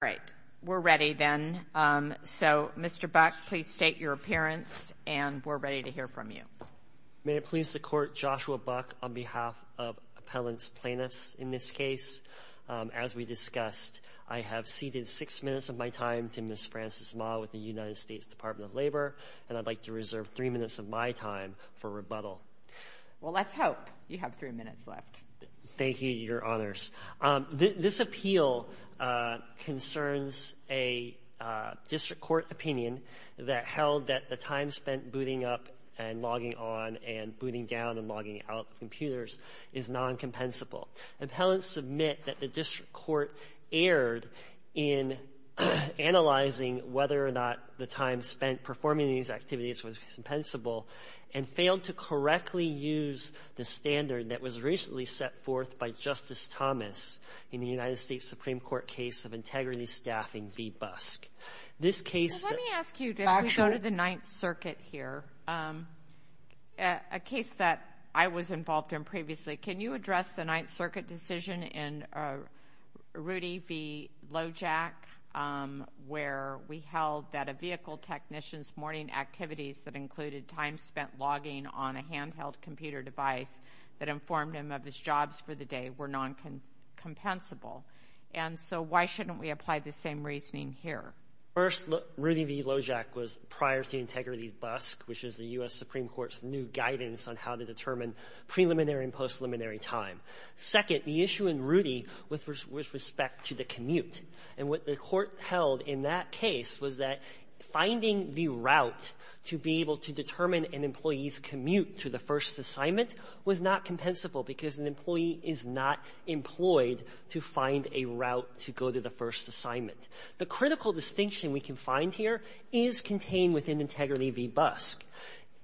All right. We're ready then. So, Mr. Buck, please state your appearance and we're ready to hear from you. May it please the Court, Joshua Buck on behalf of appellants plaintiffs in this case. As we discussed, I have ceded six minutes of my time to Ms. Frances Ma with the United States Department of Labor, and I'd like to reserve three minutes of my time for rebuttal. Well, let's hope you have three minutes left. Thank you, Your Honors. This appeal concerns a district court opinion that held that the time spent booting up and logging on and booting down and logging out of computers is non-compensable. Appellants submit that the district court erred in analyzing whether or not the time spent performing these activities was compensable and failed to correctly use the standard that was recently set forth by Justice Thomas in the United States Supreme Court case of integrity staffing v. Busk. Let me ask you to go to the Ninth Circuit here. A case that I was involved in previously, can you address the Ninth Circuit decision in Rudy v. Lojack where we held that a vehicle technician's morning activities that included time spent logging on a handheld computer device that informed him of his jobs for the day were non-compensable. And so why shouldn't we apply the same reasoning here? First, Rudy v. Lojack was prior to integrity busk, which is the U.S. Supreme Court's new guidance on how to determine preliminary and post-preliminary time. Second, the issue in Rudy with respect to the commute and what the court held in that case was that finding the route to be able to determine an employee's commute to the first assignment was not compensable because an employee is not employed to find a route to go to the first assignment. The critical distinction we can find here is contained within integrity v. Busk.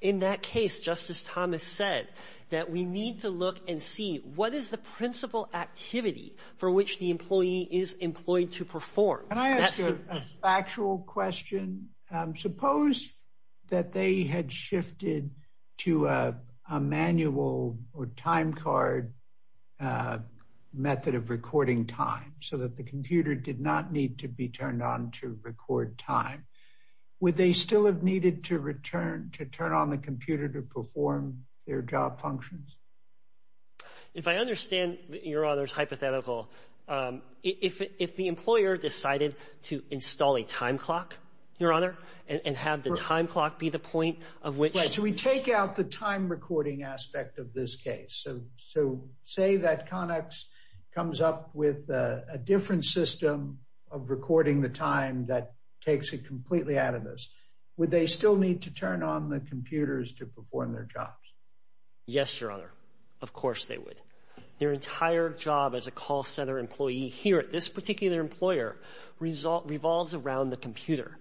In that case, Justice Thomas said that we need to look and see what is the principal activity for which the employee is employed to perform. Can I ask you a factual question? Suppose that they had shifted to a manual or time card method of recording time so that the computer did not need to be turned on to record time. Would they still have needed to return to turn on the computer to perform their job functions? If I understand your honor's hypothetical, if the employer decided to install a time clock, your honor, and have the time clock be the point of which... Right, so we take out the time recording aspect of this case. So say that Connex comes up with a different system of recording the time that takes it completely out of this. Would they still need to turn on the computers to perform their jobs? Yes, your honor. Of course they would. Their entire job as a call center employee here at this particular employer revolves around the computer.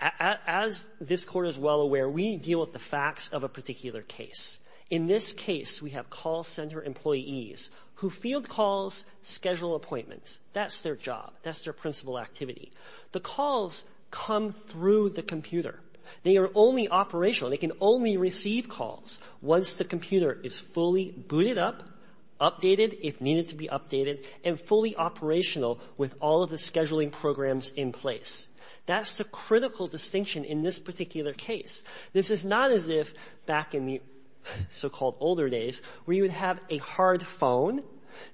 As this Court is well aware, we deal with the facts of a particular case. In this case, we have call center employees who field calls, schedule appointments. That's their job. That's their principal activity. The calls come through the computer. They are only operational. They can only receive calls once the computer is fully booted up, updated, if needed to be updated, and fully operational with all of the scheduling programs in place. That's the critical distinction in this particular case. This is not as if back in the so-called older days where you would have a hard phone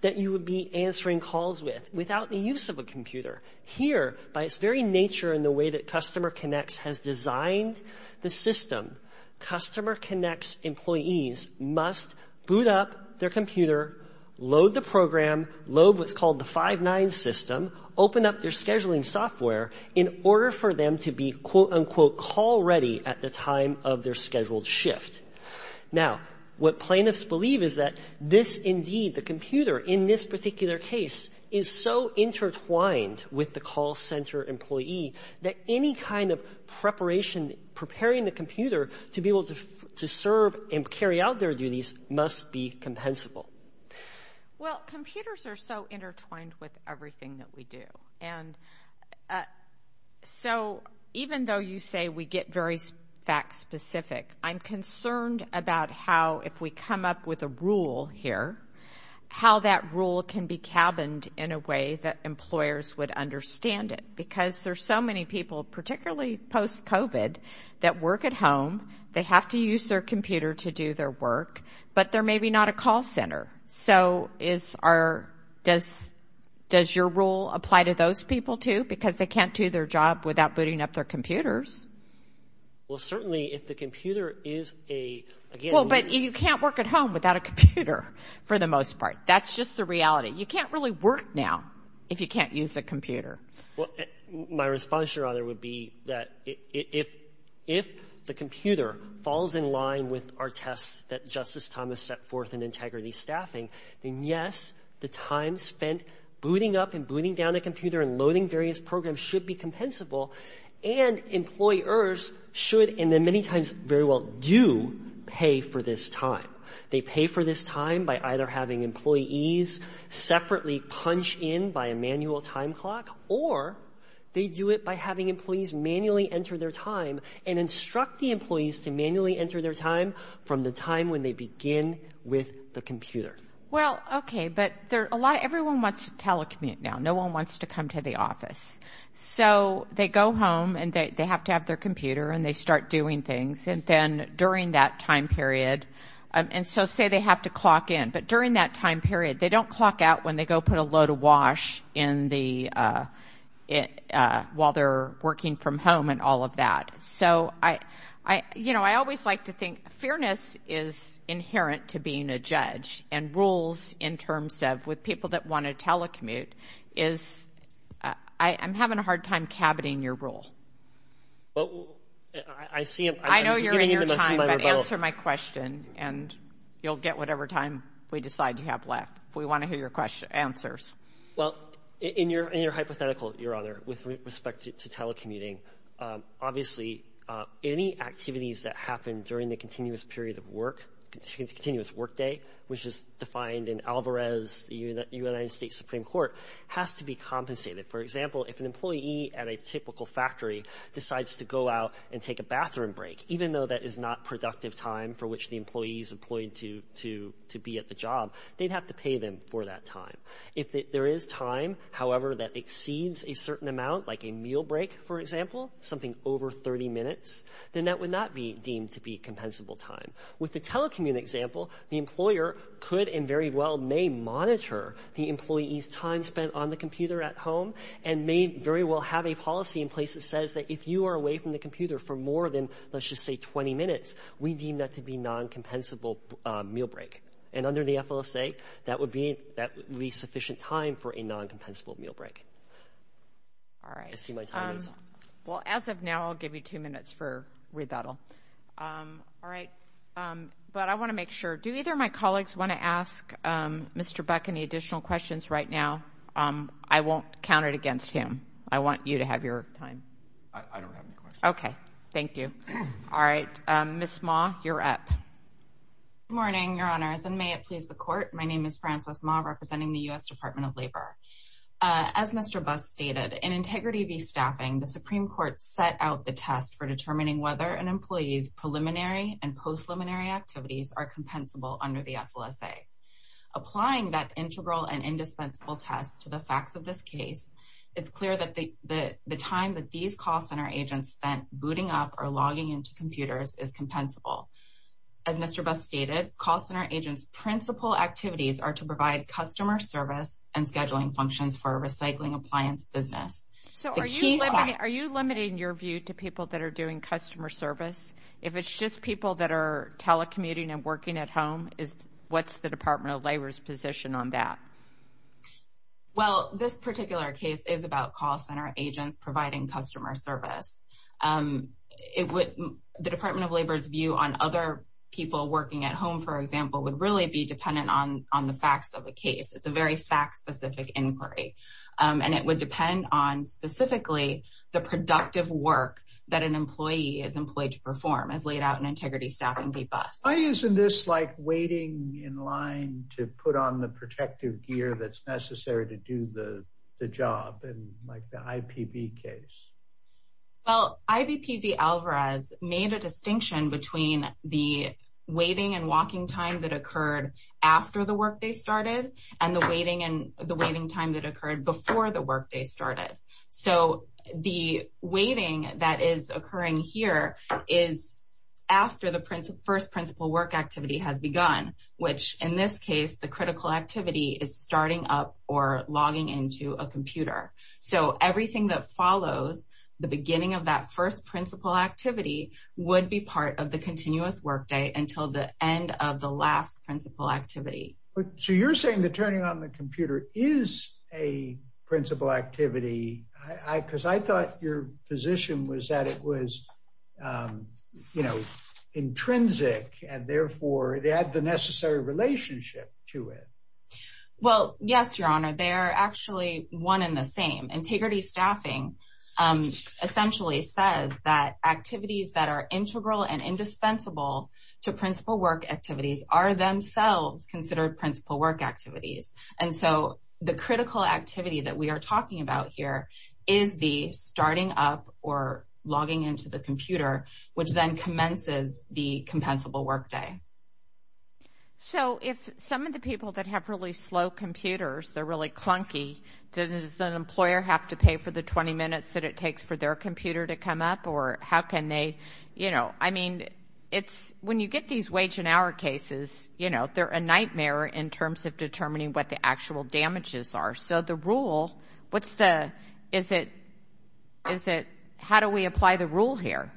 that you would be answering calls with without the use of a computer. Here, by its very nature in the way that Customer Connects has designed the system, Customer Connects employees must boot up their computer, load the program, load what's called the 5-9 system, open up their scheduling software in order for them to be, quote, unquote, call ready at the time of their scheduled shift. Now, what plaintiffs believe is that this indeed, the computer, in this particular case, is so intertwined with the call center employee that any kind of preparation, preparing the computer to be able to serve and carry out their duties must be compensable. Well, computers are so intertwined with everything that we do. And so even though you say we get very fact-specific, I'm concerned about how, if we come up with a rule here, how that rule can be cabined in a way that employers would understand it because there's so many people, particularly post-COVID, that work at home, they have to use their computer to do their work, but they're maybe not a call center. So does your rule apply to those people too because they can't do their job without booting up their computers? Well, certainly if the computer is a, again, but you can't work at home without a computer for the most part. That's just the reality. You can't really work now if you can't use a computer. Well, my response, Your Honor, would be that if the computer falls in line with our tests that Justice Thomas set forth in integrity staffing, then yes, the time spent booting up and booting down a computer and loading various programs should be compensable, and employers should, and many times very well do, pay for this time. They pay for this time by either having employees separately punch in by a manual time clock or they do it by having employees manually enter their time and instruct the employees to manually enter their time from the time when they begin with the computer. Well, okay, but everyone wants to telecommute now. No one wants to come to the office. So they go home and they have to have their computer and they start doing things, and then during that time period, and so say they have to clock in, but during that time period they don't clock out when they go put a load of wash while they're working from home and all of that. So I always like to think fairness is inherent to being a judge, and rules in terms of with people that want to telecommute is, I'm having a hard time cabiting your role. I see. I know you're in your time, but answer my question, and you'll get whatever time we decide you have left if we want to hear your answers. Well, in your hypothetical, Your Honor, with respect to telecommuting, obviously any activities that happen during the continuous period of work, the continuous workday, which is defined in Alvarez, the United States Supreme Court, has to be compensated. For example, if an employee at a typical factory decides to go out and take a bathroom break, even though that is not productive time for which the employee is employed to be at the job, they'd have to pay them for that time. If there is time, however, that exceeds a certain amount, like a meal break, for example, something over 30 minutes, then that would not be deemed to be compensable time. With the telecommute example, the employer could and very well may monitor the employee's time spent on the computer at home and may very well have a policy in place that says that if you are away from the computer for more than, let's just say, 20 minutes, we deem that to be non-compensable meal break. And under the FLSA, that would be sufficient time for a non-compensable meal break. I see my time is up. Well, as of now, I'll give you two minutes for rebuttal. All right. But I want to make sure. Do either of my colleagues want to ask Mr. Buck any additional questions right now? I won't count it against him. I want you to have your time. I don't have any questions. Okay. Thank you. All right. Ms. Ma, you're up. Good morning, Your Honors, and may it please the Court. My name is Frances Ma representing the U.S. Department of Labor. As Mr. Buss stated, in Integrity v. Staffing, the Supreme Court set out the test for determining whether an employee's preliminary and post-preliminary activities are compensable under the FLSA. Applying that integral and indispensable test to the facts of this case, it's clear that the time that these call center agents spent booting up or logging into computers is compensable. As Mr. Buss stated, call center agents' principal activities are to provide customer service and scheduling functions for a recycling appliance business. So are you limiting your view to people that are doing customer service? If it's just people that are telecommuting and working at home, what's the Department of Labor's position on that? Well, this particular case is about call center agents providing customer service. The Department of Labor's view on other people working at home, for example, would really be dependent on the facts of the case. It's a very fact-specific inquiry, and it would depend on specifically the productive work that an employee is employed to perform as laid out in Integrity v. Staffing v. Buss. Why isn't this like waiting in line to put on the protective gear that's necessary to do the job, like the IPV case? Well, IBP v. Alvarez made a distinction between the waiting and walking time that occurred after the workday started and the waiting time that occurred before the workday started. So the waiting that is occurring here is after the first principal work activity has begun, which in this case, the critical activity is starting up or logging into a computer. So everything that follows the beginning of that first principal activity would be part of the continuous workday until the end of the last principal activity. So you're saying that turning on the computer is a principal activity, because I thought your position was that it was, you know, intrinsic and therefore it had the necessary relationship to it. Well, yes, Your Honor. They are actually one in the same. Integrity v. Staffing essentially says that activities that are integral and indispensable to principal work activities are themselves considered principal work activities. And so the critical activity that we are talking about here is the starting up or logging into the computer, which then commences the compensable workday. So if some of the people that have really slow computers, they're really clunky, does an employer have to pay for the 20 minutes that it takes for their computer to come up, or how can they, you know, I mean, when you get these wage and hour cases, you know, they're a nightmare in terms of determining what the actual damages are. So the rule, what's the, is it, how do we apply the rule here?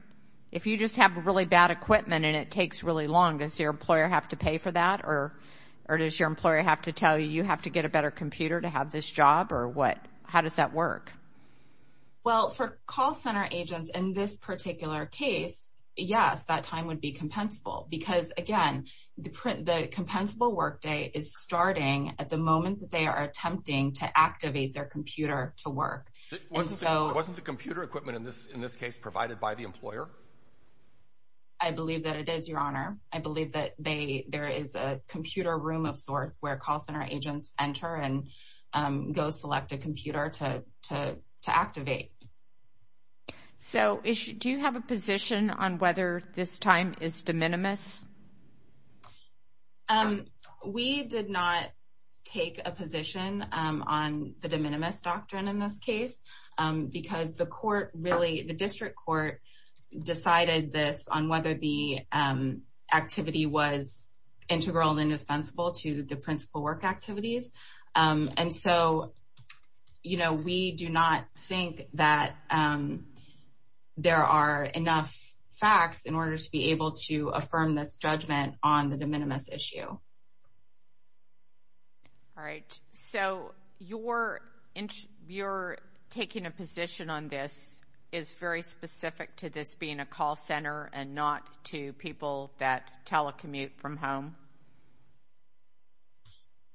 If you just have really bad equipment and it takes really long, does your employer have to pay for that? Or does your employer have to tell you you have to get a better computer to have this job? Or what, how does that work? Well, for call center agents in this particular case, yes, that time would be compensable. Because, again, the compensable workday is starting at the moment that they are attempting to activate their computer to work. Wasn't the computer equipment in this case provided by the employer? I believe that it is, Your Honor. I believe that there is a computer room of sorts where call center agents enter and go select a computer to activate. So do you have a position on whether this time is de minimis? We did not take a position on the de minimis doctrine in this case. Because the court really, the district court, decided this on whether the activity was integral and indispensable to the principal work activities. And so, you know, we do not think that there are enough facts in order to be able to affirm this judgment on the de minimis issue. All right. So your taking a position on this is very specific to this being a call center and not to people that telecommute from home?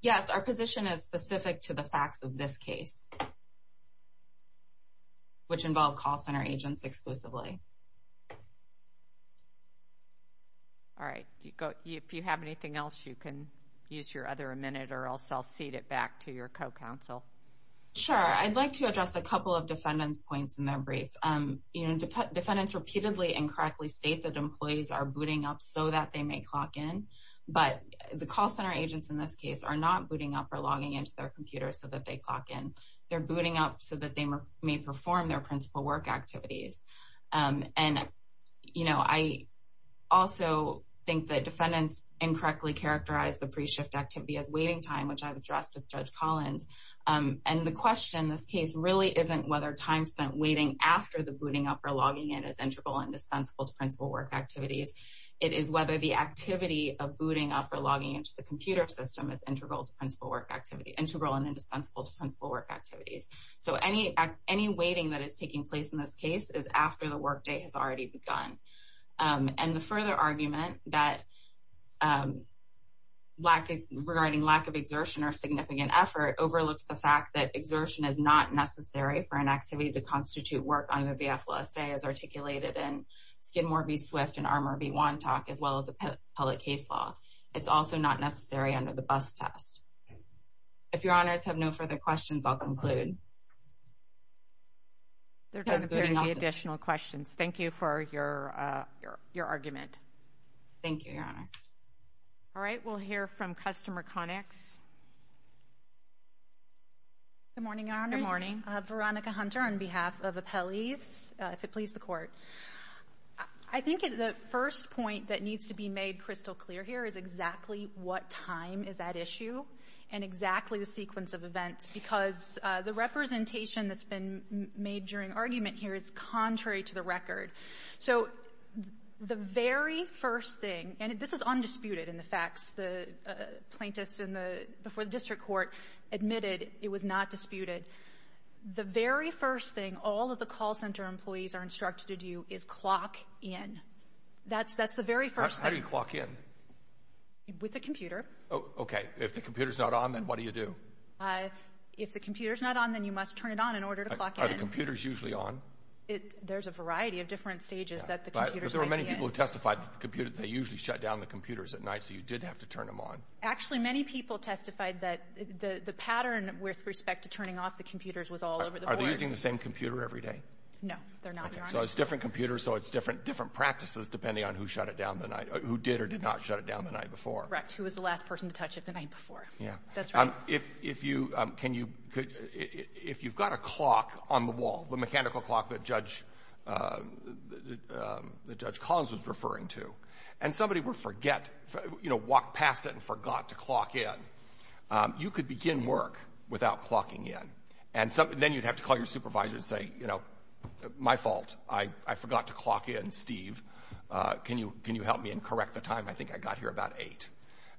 Yes, our position is specific to the facts of this case, which involve call center agents exclusively. All right. If you have anything else, you can use your other a minute, or else I'll cede it back to your co-counsel. Sure. I'd like to address a couple of defendant's points in their brief. You know, defendants repeatedly and correctly state that employees are booting up so that they may clock in. But the call center agents in this case are not booting up or logging into their computers so that they clock in. They're booting up so that they may perform their principal work activities. And, you know, I also think that defendants incorrectly characterized the pre-shift activity as waiting time, which I've addressed with Judge Collins. And the question in this case really isn't whether time spent waiting after the booting up or logging in is integral and dispensable to principal work activities. It is whether the activity of booting up or logging into the computer system is integral and dispensable to principal work activities. So any waiting that is taking place in this case is after the work day has already begun. And the further argument regarding lack of exertion or significant effort overlooks the fact that exertion is not necessary for an activity to constitute work under the FLSA as articulated in Skidmore v. Swift and Armour v. Wantock, as well as appellate case law. It's also not necessary under the bus test. If Your Honors have no further questions, I'll conclude. There doesn't appear to be additional questions. Thank you for your argument. Thank you, Your Honor. All right, we'll hear from Customer Connex. Good morning, Your Honors. Good morning. Veronica Hunter on behalf of appellees, if it please the Court. I think the first point that needs to be made crystal clear here is exactly what time is at issue and exactly the sequence of events because the representation that's been made during argument here is contrary to the record. So the very first thing, and this is undisputed in the facts. The plaintiffs before the District Court admitted it was not disputed. The very first thing all of the call center employees are instructed to do is clock in. That's the very first thing. How do you clock in? With a computer. Okay. If the computer's not on, then what do you do? If the computer's not on, then you must turn it on in order to clock in. Are the computers usually on? There's a variety of different stages that the computers might be in. But there were many people who testified that they usually shut down the computers at night, so you did have to turn them on. Actually, many people testified that the pattern with respect to turning off the computers was all over the board. Are they using the same computer every day? No, they're not, Your Honor. So it's different computers, so it's different practices, depending on who shut it down the night, who did or did not shut it down the night before. Correct. Who was the last person to touch it the night before. Yeah. That's right. If you've got a clock on the wall, the mechanical clock that Judge Collins was referring to, and somebody would forget, walk past it and forgot to clock in, you could begin work without clocking in. Then you'd have to call your supervisor and say, you know, my fault. I forgot to clock in, Steve. Can you help me and correct the time? I think I got here about 8.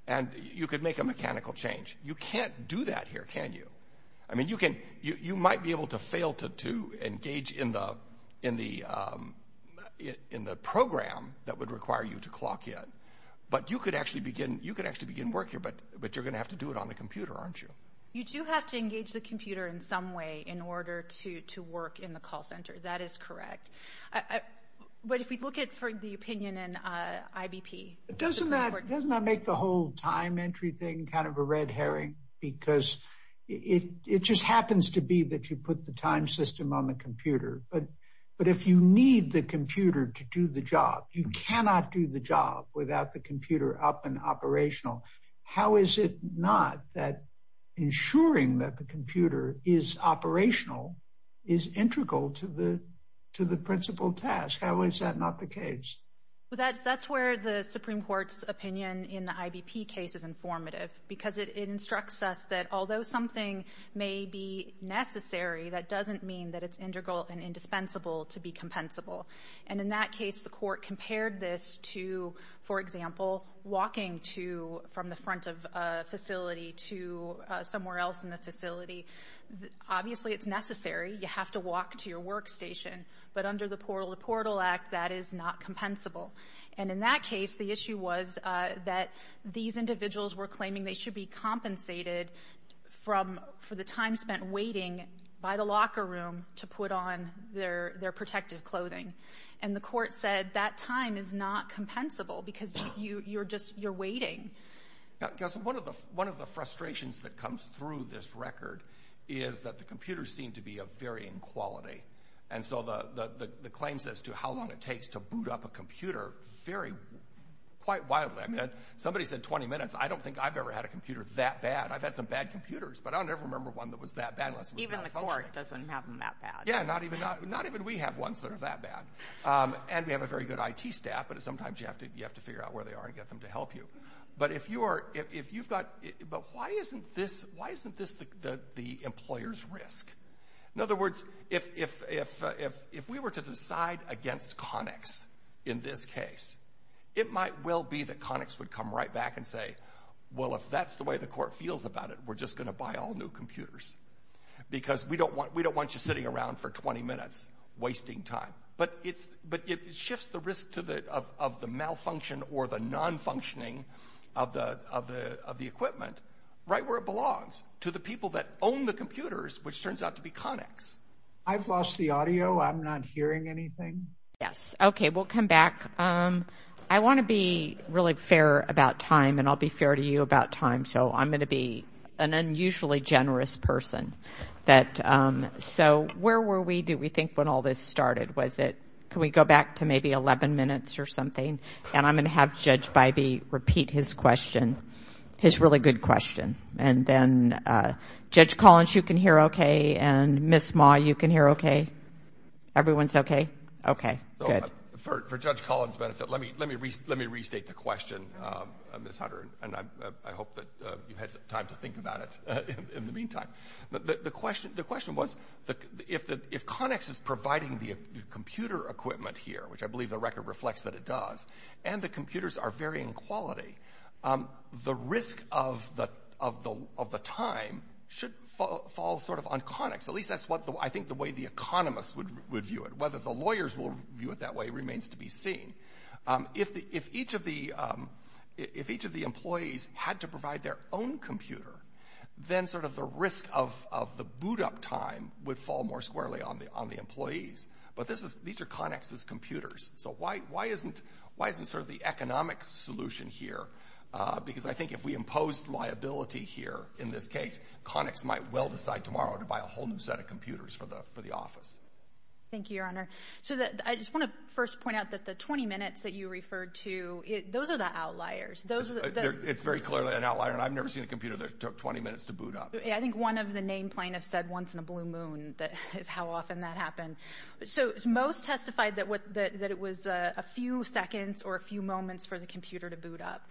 And you could make a mechanical change. You can't do that here, can you? I mean, you might be able to fail to engage in the program that would require you to clock in, but you could actually begin work here, but you're going to have to do it on the computer, aren't you? You do have to engage the computer in some way in order to work in the call center. That is correct. But if we look at the opinion in IBP. Doesn't that make the whole time entry thing kind of a red herring? Because it just happens to be that you put the time system on the computer. But if you need the computer to do the job, you cannot do the job without the computer up and operational. How is it not that ensuring that the computer is operational is integral to the principal task? How is that not the case? That's where the Supreme Court's opinion in the IBP case is informative, because it instructs us that although something may be necessary, that doesn't mean that it's integral and indispensable to be compensable. And in that case, the court compared this to, for example, walking from the front of a facility to somewhere else in the facility. Obviously it's necessary. You have to walk to your workstation. But under the Portal to Portal Act, that is not compensable. And in that case, the issue was that these individuals were claiming they should be compensated for the time spent waiting by the locker room to put on their protective clothing. And the court said that time is not compensable because you're just waiting. One of the frustrations that comes through this record is that the computers seem to be of varying quality. And so the claims as to how long it takes to boot up a computer vary quite widely. I mean, somebody said 20 minutes. I don't think I've ever had a computer that bad. I've had some bad computers, but I'll never remember one that was that bad unless it was malfunctioning. Even the court doesn't have them that bad. Yeah, not even we have ones that are that bad. And we have a very good IT staff, but sometimes you have to figure out where they are and get them to help you. But why isn't this the employer's risk? In other words, if we were to decide against Connix in this case, it might well be that Connix would come right back and say, well, if that's the way the court feels about it, we're just going to buy all new computers because we don't want you sitting around for 20 minutes wasting time. But it shifts the risk of the malfunction or the non-functioning of the equipment right where it belongs, to the people that own the computers, which turns out to be Connix. I've lost the audio. I'm not hearing anything. Yes. Okay, we'll come back. I want to be really fair about time, and I'll be fair to you about time. So I'm going to be an unusually generous person. So where were we, do we think, when all this started? Can we go back to maybe 11 minutes or something? And I'm going to have Judge Bybee repeat his question, his really good question. And then Judge Collins, you can hear okay? And Ms. Ma, you can hear okay? Everyone's okay? Okay, good. For Judge Collins' benefit, let me restate the question, Ms. Hunter, and I hope that you've had time to think about it in the meantime. The question was, if Connix is providing the computer equipment here, which I believe the record reflects that it does, and the computers are very in quality, the risk of the time should fall sort of on Connix. At least that's what I think the way the economists would view it. Whether the lawyers will view it that way remains to be seen. If each of the employees had to provide their own computer, then sort of the risk of the boot-up time would fall more squarely on the employees. But these are Connix's computers. So why isn't sort of the economic solution here? Because I think if we impose liability here in this case, Connix might well decide tomorrow to buy a whole new set of computers for the office. Thank you, Your Honor. So I just want to first point out that the 20 minutes that you referred to, those are the outliers. It's very clearly an outlier, and I've never seen a computer that took 20 minutes to boot up. I think one of the name plaintiffs said once in a blue moon is how often that happened. So most testified that it was a few seconds or a few moments for the computer to boot up.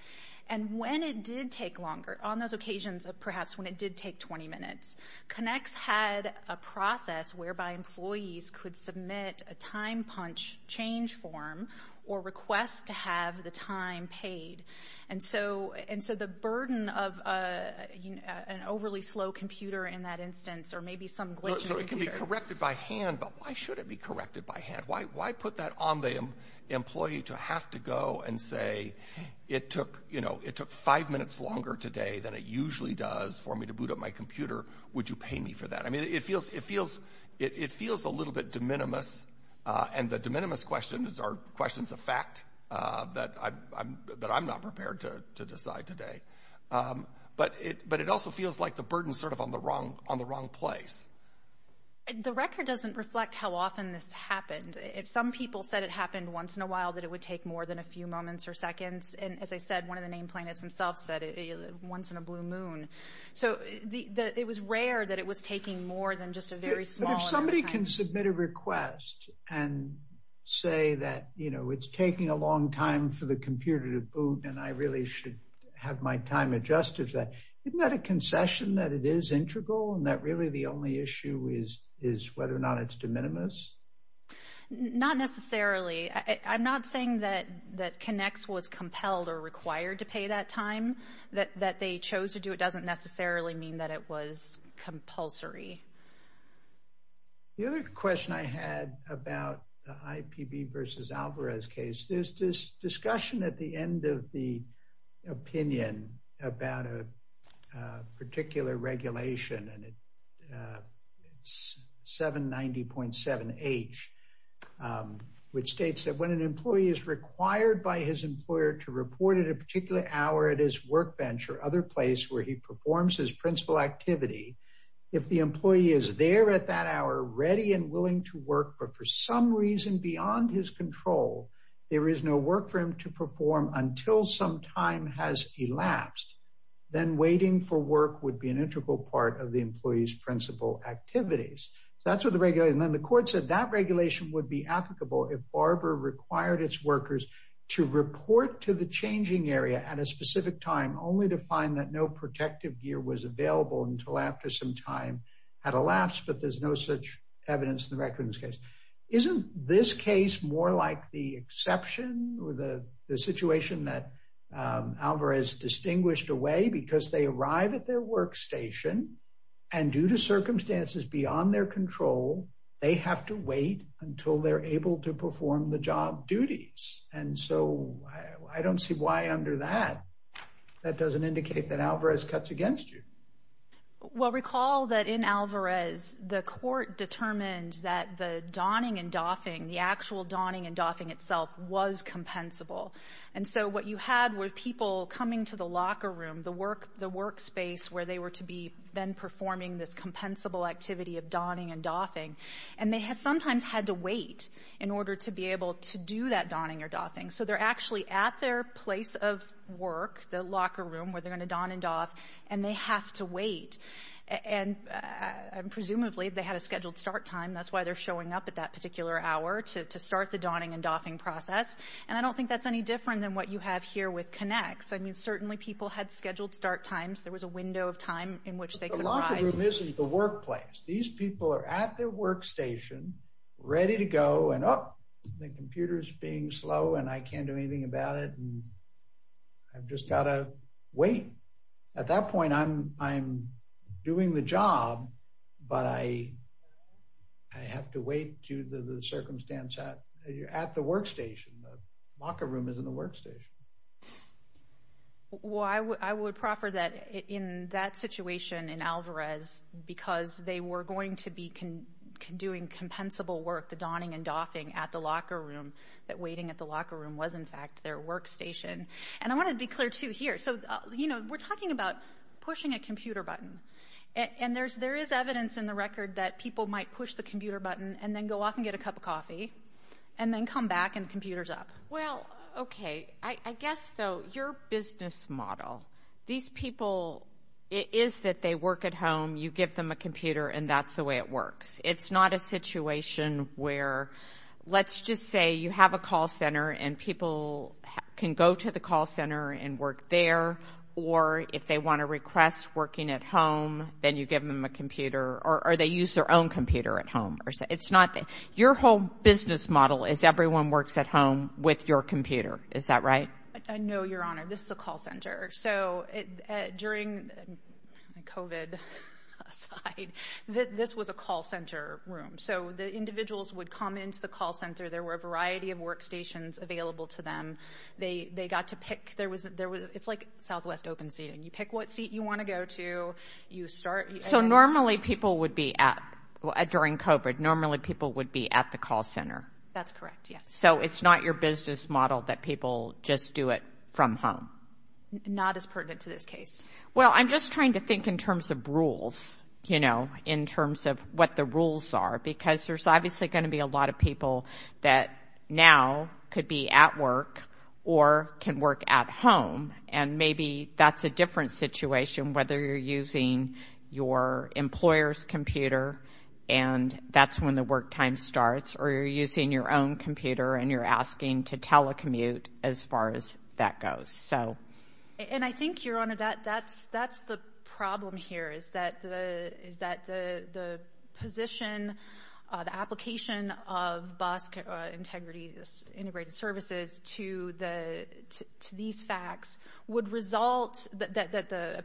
And when it did take longer, on those occasions of perhaps when it did take 20 minutes, Connix had a process whereby employees could submit a time punch change form or request to have the time paid. And so the burden of an overly slow computer in that instance or maybe some glitching computer. So it can be corrected by hand, but why should it be corrected by hand? Why put that on the employee to have to go and say, it took five minutes longer today than it usually does for me to boot up my computer. Would you pay me for that? I mean, it feels a little bit de minimis, and the de minimis questions are questions of fact that I'm not prepared to decide today. But it also feels like the burden is sort of on the wrong place. The record doesn't reflect how often this happened. If some people said it happened once in a while, that it would take more than a few moments or seconds. And as I said, one of the name plaintiffs himself said it once in a blue moon. So it was rare that it was taking more than just a very small amount of time. But if somebody can submit a request and say that, you know, it's taking a long time for the computer to boot and I really should have my time adjusted to that. Isn't that a concession that it is integral and that really the only issue is whether or not it's de minimis? Not necessarily. I'm not saying that that connects was compelled or required to pay that time that they chose to do. It doesn't necessarily mean that it was compulsory. The other question I had about the IPV versus Alvarez case, there's this discussion at the end of the opinion about a particular regulation. And it's 790.7 H, which states that when an employee is required by his employer to report at a particular hour, it is work venture other place where he performs his principal activity. If the employee is there at that hour, ready and willing to work, but for some reason beyond his control, there is no work for him to perform until some time has elapsed. Then waiting for work would be an integral part of the employee's principal activities. That's what the regular and then the court said that regulation would be applicable. If Barbara required its workers to report to the changing area at a specific time, only to find that no protective gear was available until after some time had elapsed. But there's no such evidence in the records case. Isn't this case more like the exception or the situation that Alvarez distinguished away? Because they arrive at their workstation and due to circumstances beyond their control, they have to wait until they're able to perform the job duties. And so I don't see why under that, that doesn't indicate that Alvarez cuts against you. Well, recall that in Alvarez, the court determined that the donning and doffing, the actual donning and doffing itself was compensable. And so what you had were people coming to the locker room, the workspace where they were to be then performing this compensable activity of donning and doffing, and they sometimes had to wait in order to be able to do that donning or doffing. So they're actually at their place of work, the locker room, where they're going to don and doff, and they have to wait. And presumably they had a scheduled start time. That's why they're showing up at that particular hour to start the donning and doffing process. And I don't think that's any different than what you have here with Connex. I mean, certainly people had scheduled start times. There was a window of time in which they could arrive. But the locker room isn't the workplace. These people are at their workstation, ready to go. And oh, the computer's being slow and I can't do anything about it. I've just got to wait. At that point, I'm doing the job, but I have to wait due to the circumstance at the workstation. The locker room isn't the workstation. Well, I would proffer that in that situation in Alvarez, because they were going to be doing compensable work, the donning and doffing at the locker room, that waiting at the locker room was, in fact, their workstation. And I want to be clear, too, here. So, you know, we're talking about pushing a computer button. And there is evidence in the record that people might push the computer button and then go off and get a cup of coffee and then come back and the computer's up. Well, okay. I guess, though, your business model, these people, it is that they work at home, you give them a computer, and that's the way it works. It's not a situation where, let's just say you have a call center and people can go to the call center and work there, or if they want to request working at home, then you give them a computer, or they use their own computer at home. It's not that. Your whole business model is everyone works at home with your computer. Is that right? No, Your Honor. This is a call center. So during COVID aside, this was a call center room. So the individuals would come into the call center. There were a variety of workstations available to them. They got to pick. It's like Southwest Open Seating. You pick what seat you want to go to. So normally people would be at, during COVID, normally people would be at the call center. That's correct, yes. So it's not your business model that people just do it from home? Not as pertinent to this case. Well, I'm just trying to think in terms of rules, you know, in terms of what the rules are, because there's obviously going to be a lot of people that now could be at work or can work at home, and maybe that's a different situation, whether you're using your employer's computer and that's when the work time starts, or you're using your own computer and you're asking to telecommute as far as that goes. And I think, Your Honor, that's the problem here, is that the position, the application of BOSC Integrated Services to these facts would result, that the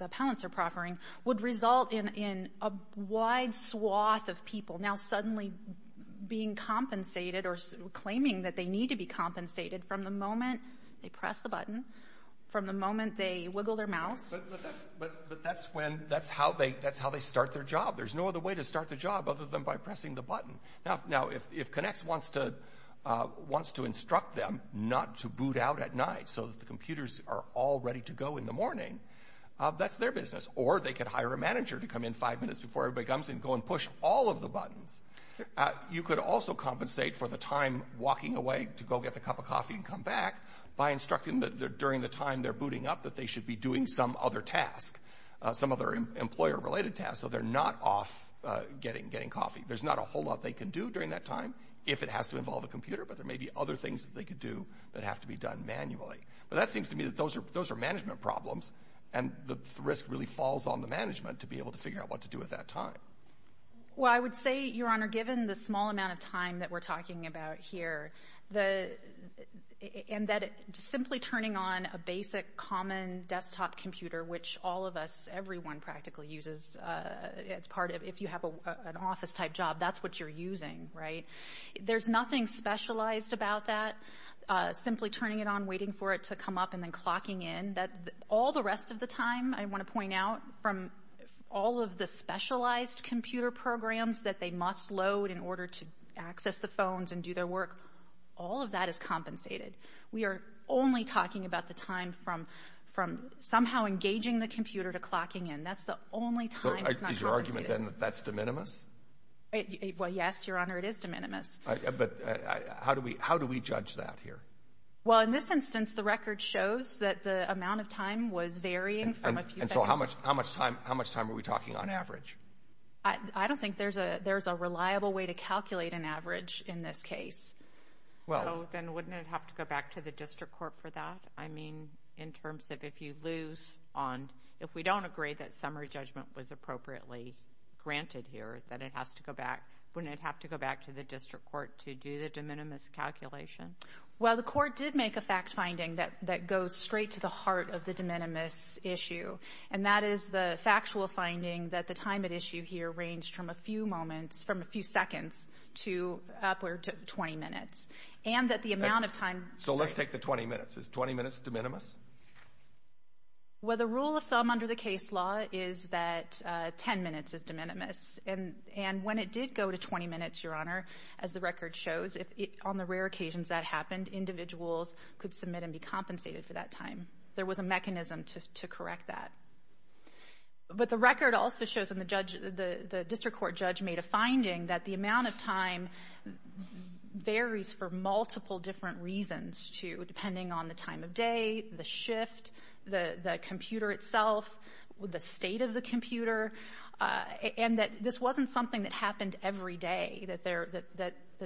appellants are proffering, would result in a wide swath of people now suddenly being compensated or claiming that they need to be compensated from the moment they press the button, from the moment they wiggle their mouse. But that's when, that's how they start their job. There's no other way to start the job other than by pressing the button. Now, if Connex wants to instruct them not to boot out at night so that the computers are all ready to go in the morning, that's their business. Or they could hire a manager to come in five minutes before everybody comes in and go and push all of the buttons. You could also compensate for the time walking away to go get the cup of coffee and come back by instructing them that during the time they're booting up that they should be doing some other task, some other employer-related task, so they're not off getting coffee. There's not a whole lot they can do during that time if it has to involve a computer, but there may be other things that they could do that have to be done manually. But that seems to me that those are management problems, and the risk really falls on the management to be able to figure out what to do at that time. Well, I would say, Your Honor, given the small amount of time that we're talking about here and that simply turning on a basic common desktop computer, which all of us, everyone practically uses as part of if you have an office-type job, that's what you're using, right? There's nothing specialized about that. Simply turning it on, waiting for it to come up, and then clocking in. All the rest of the time, I want to point out, from all of the specialized computer programs that they must load in order to access the phones and do their work, all of that is compensated. We are only talking about the time from somehow engaging the computer to clocking in. That's the only time it's not compensated. Is your argument then that that's de minimis? Well, yes, Your Honor, it is de minimis. But how do we judge that here? Well, in this instance, the record shows that the amount of time was varying from a few seconds. And so how much time are we talking on average? I don't think there's a reliable way to calculate an average in this case. So then wouldn't it have to go back to the district court for that? I mean, in terms of if you lose on, if we don't agree that summary judgment was appropriately granted here, that it has to go back, wouldn't it have to go back to the district court to do the de minimis calculation? Well, the court did make a fact finding that goes straight to the heart of the de minimis issue, and that is the factual finding that the time at issue here ranged from a few moments, from a few seconds, to upward to 20 minutes. And that the amount of time... So let's take the 20 minutes. Is 20 minutes de minimis? Well, the rule of thumb under the case law is that 10 minutes is de minimis. And when it did go to 20 minutes, Your Honor, as the record shows, on the rare occasions that happened, individuals could submit and be compensated for that time. There was a mechanism to correct that. But the record also shows, and the district court judge made a finding, that the amount of time varies for multiple different reasons, too, depending on the time of day, the shift, the computer itself, the state of the computer, and that this wasn't something that happened every day, that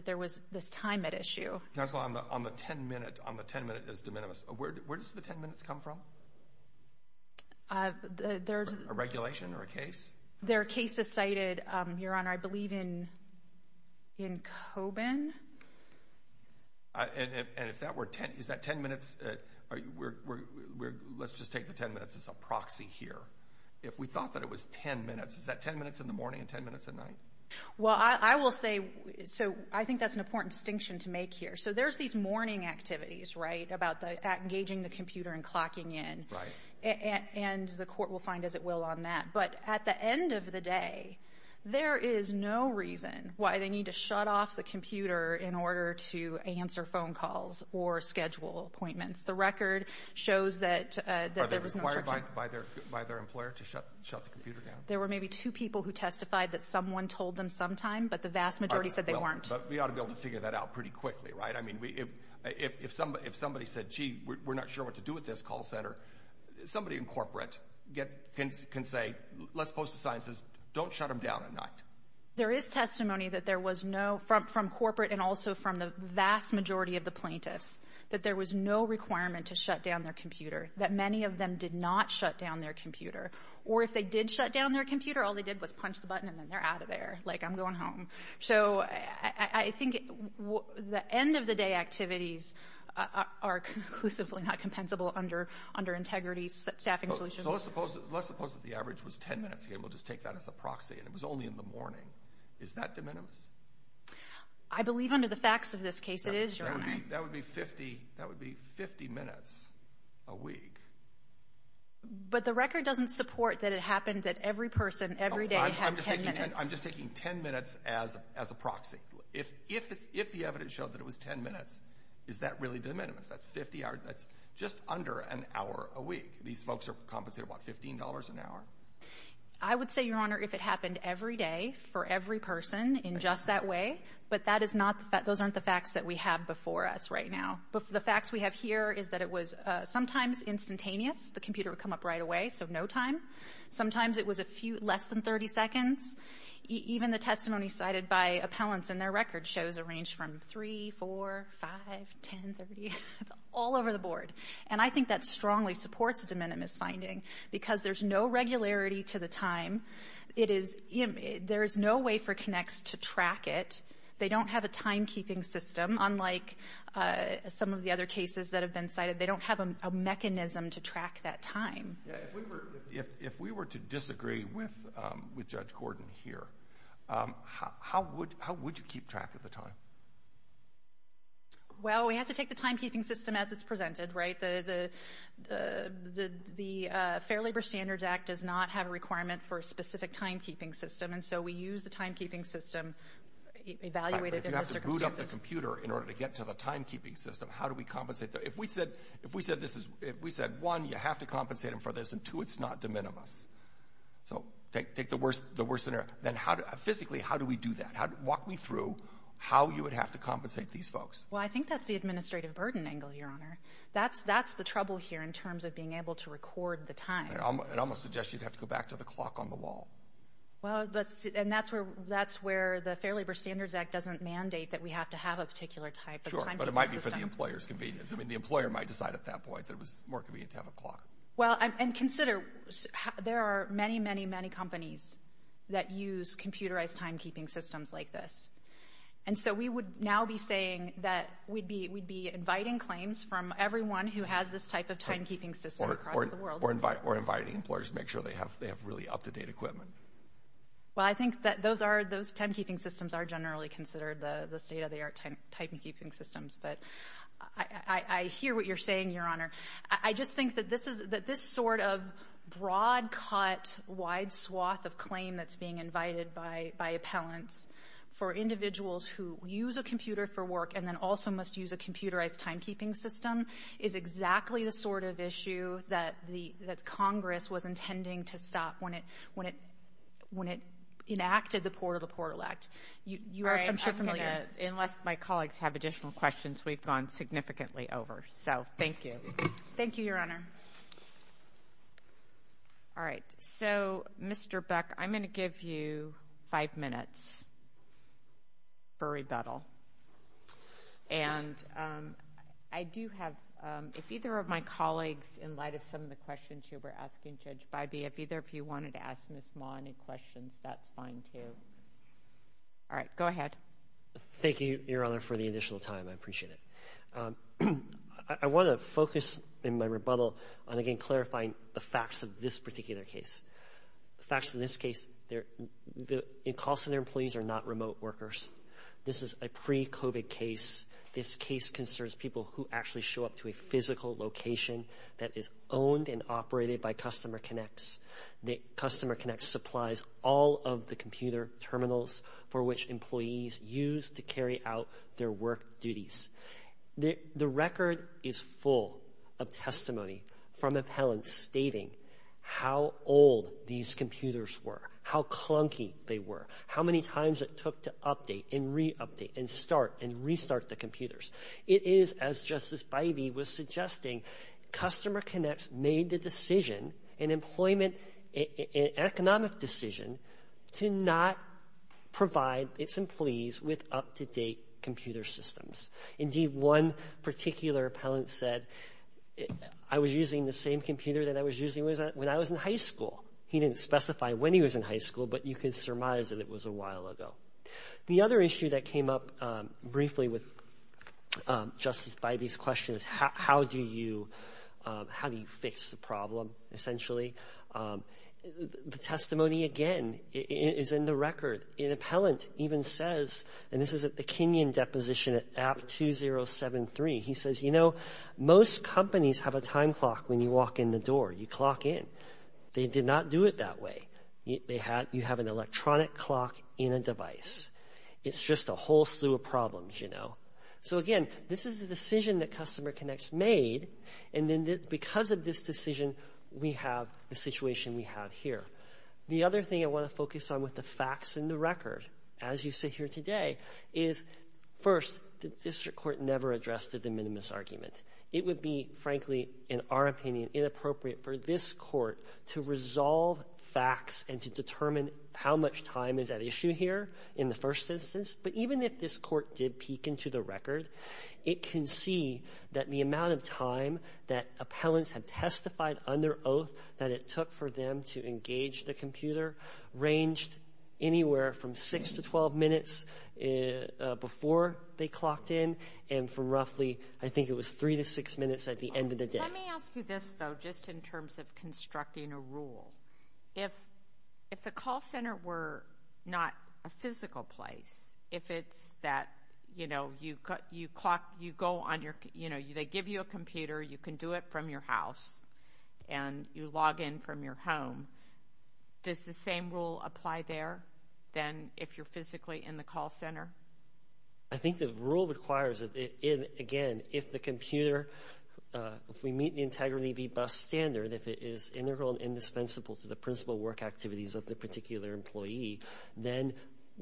there was this time at issue. Counsel, on the 10 minute as de minimis, where does the 10 minutes come from? There's... A regulation or a case? There are cases cited, Your Honor, I believe in Coben. And if that were 10, is that 10 minutes... Let's just take the 10 minutes as a proxy here. If we thought that it was 10 minutes, is that 10 minutes in the morning and 10 minutes at night? Well, I will say, so I think that's an important distinction to make here. So there's these morning activities, right, about engaging the computer and clocking in. Right. And the court will find as it will on that. But at the end of the day, there is no reason why they need to shut off the computer in order to answer phone calls or schedule appointments. The record shows that there was no such... Are they required by their employer to shut the computer down? There were maybe two people who testified that someone told them sometime, but the vast majority said they weren't. But we ought to be able to figure that out pretty quickly, right? I mean, if somebody said, gee, we're not sure what to do with this call center, somebody in corporate can say, let's post a sign that says, don't shut them down at night. There is testimony that there was no... from corporate and also from the vast majority of the plaintiffs that there was no requirement to shut down their computer, that many of them did not shut down their computer. Or if they did shut down their computer, all they did was punch the button and then they're out of there, like I'm going home. So I think the end-of-the-day activities are conclusively not compensable under integrity staffing solutions. So let's suppose that the average was 10 minutes. Again, we'll just take that as a proxy, and it was only in the morning. Is that de minimis? I believe under the facts of this case it is, Your Honor. That would be 50 minutes a week. But the record doesn't support that it happened that every person every day had 10 minutes. I'm just taking 10 minutes as a proxy. If the evidence showed that it was 10 minutes, is that really de minimis? That's 50 hours. That's just under an hour a week. These folks are compensated, what, $15 an hour? I would say, Your Honor, if it happened every day for every person in just that way, but that is not the fact. Those aren't the facts that we have before us right now. But the facts we have here is that it was sometimes instantaneous. The computer would come up right away, so no time. Sometimes it was less than 30 seconds. Even the testimony cited by appellants in their record shows a range from 3, 4, 5, 10, 30. It's all over the board. And I think that strongly supports de minimis finding because there's no regularity to the time. There is no way for Connex to track it. They don't have a timekeeping system, unlike some of the other cases that have been cited. They don't have a mechanism to track that time. If we were to disagree with Judge Gordon here, how would you keep track of the time? Well, we have to take the timekeeping system as it's presented, right? The Fair Labor Standards Act does not have a requirement for a specific timekeeping system, and so we use the timekeeping system evaluated in the circumstances. But if you have to boot up the computer in order to get to the timekeeping system, how do we compensate? If we said, one, you have to compensate them for this, and two, it's not de minimis. So take the worst scenario. Then physically, how do we do that? Walk me through how you would have to compensate these folks. Well, I think that's the administrative burden angle, Your Honor. That's the trouble here in terms of being able to record the time. And I'm going to suggest you'd have to go back to the clock on the wall. Well, and that's where the Fair Labor Standards Act doesn't mandate that we have to have a particular type of timekeeping system. Sure, but it might be for the employer's convenience. I mean, the employer might decide at that point that it was more convenient to have a clock. Well, and consider there are many, many, many companies that use computerized timekeeping systems like this. And so we would now be saying that we'd be inviting claims from everyone who has this type of timekeeping system across the world. Or inviting employers to make sure they have really up-to-date equipment. Well, I think that those timekeeping systems are generally considered the state-of-the-art timekeeping systems. But I hear what you're saying, Your Honor. I just think that this sort of broad-cut, wide swath of claim that's being invited by appellants for individuals who use a computer for work and then also must use a computerized timekeeping system is exactly the sort of issue that Congress was intending to stop when it enacted the Port of the Portal Act. I'm sure you're familiar. Unless my colleagues have additional questions, we've gone significantly over. So, thank you. Thank you, Your Honor. All right. So, Mr. Buck, I'm going to give you five minutes for rebuttal. And I do have, if either of my colleagues, in light of some of the questions you were asking, Judge Bybee, if either of you wanted to ask Ms. Ma any questions, that's fine, too. All right. Go ahead. Thank you, Your Honor, for the additional time. I appreciate it. I want to focus in my rebuttal on, again, clarifying the facts of this particular case. The facts in this case, the calls to their employees are not remote workers. This is a pre-COVID case. This case concerns people who actually show up to a physical location that is owned and operated by Customer Connects. Customer Connects supplies all of the computer terminals for which employees use to carry out their work duties. The record is full of testimony from appellants stating how old these computers were, how clunky they were, how many times it took to update and re-update and start and restart the computers. It is, as Justice Bybee was suggesting, Customer Connects made the decision, an economic decision, to not provide its employees with up-to-date computer systems. Indeed, one particular appellant said, I was using the same computer that I was using when I was in high school. He didn't specify when he was in high school, but you can surmise that it was a while ago. The other issue that came up briefly with Justice Bybee's question is how do you fix the problem, essentially? The testimony, again, is in the record. An appellant even says, and this is at the Kenyon deposition at app 2073, he says, you know, most companies have a time clock when you walk in the door. You clock in. They did not do it that way. You have an electronic clock in a device. It's just a whole slew of problems, you know. So, again, this is the decision that Customer Connects made, and then because of this decision, we have the situation we have here. The other thing I want to focus on with the facts in the record, as you sit here today, is, first, the district court never addressed the de minimis argument. It would be, frankly, in our opinion, inappropriate for this court to resolve facts and to determine how much time is at issue here in the first instance. But even if this court did peek into the record, it can see that the amount of time that appellants have testified under oath that it took for them to engage the computer ranged anywhere from 6 to 12 minutes before they clocked in and from roughly, I think it was 3 to 6 minutes at the end of the day. Let me ask you this, though, just in terms of constructing a rule. If the call center were not a physical place, if it's that, you know, you clock, you go on your, you know, they give you a computer, you can do it from your house, and you log in from your home, does the same rule apply there than if you're physically in the call center? I think the rule requires that, again, if the computer, if we meet the integrity of the bus standard, if it is integral and indispensable to the principal work activities of the particular employee, then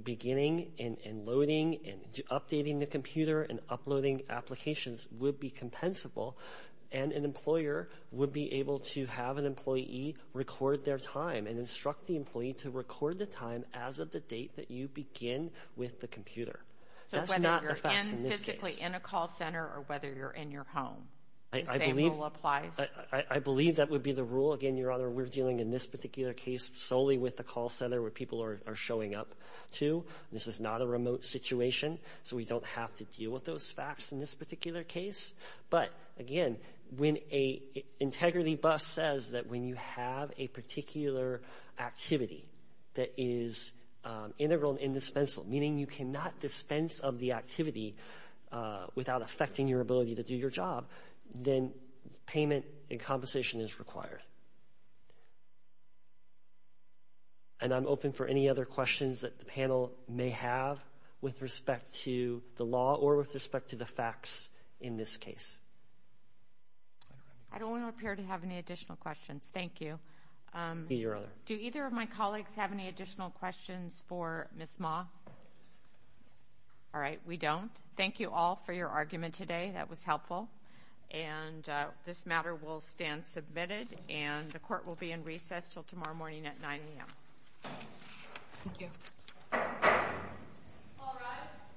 beginning and loading and updating the computer and uploading applications would be compensable, and an employer would be able to have an employee record their time and instruct the employee to record the time as of the date that you begin with the computer. That's not the facts in this case. So whether you're physically in a call center or whether you're in your home, the same rule applies? I believe that would be the rule. Again, Your Honor, we're dealing in this particular case solely with the call center where people are showing up to. This is not a remote situation, so we don't have to deal with those facts in this particular case. But, again, when an integrity bus says that when you have a particular activity that is integral and indispensable, meaning you cannot dispense of the activity without affecting your ability to do your job, then payment and compensation is required. And I'm open for any other questions that the panel may have with respect to the law or with respect to the facts in this case. I don't want to appear to have any additional questions. Thank you. Do either of my colleagues have any additional questions for Ms. Ma? All right, we don't. Thank you all for your argument today. That was helpful. And this matter will stand submitted, and the court will be in recess until tomorrow morning at 9 a.m. Thank you. All rise.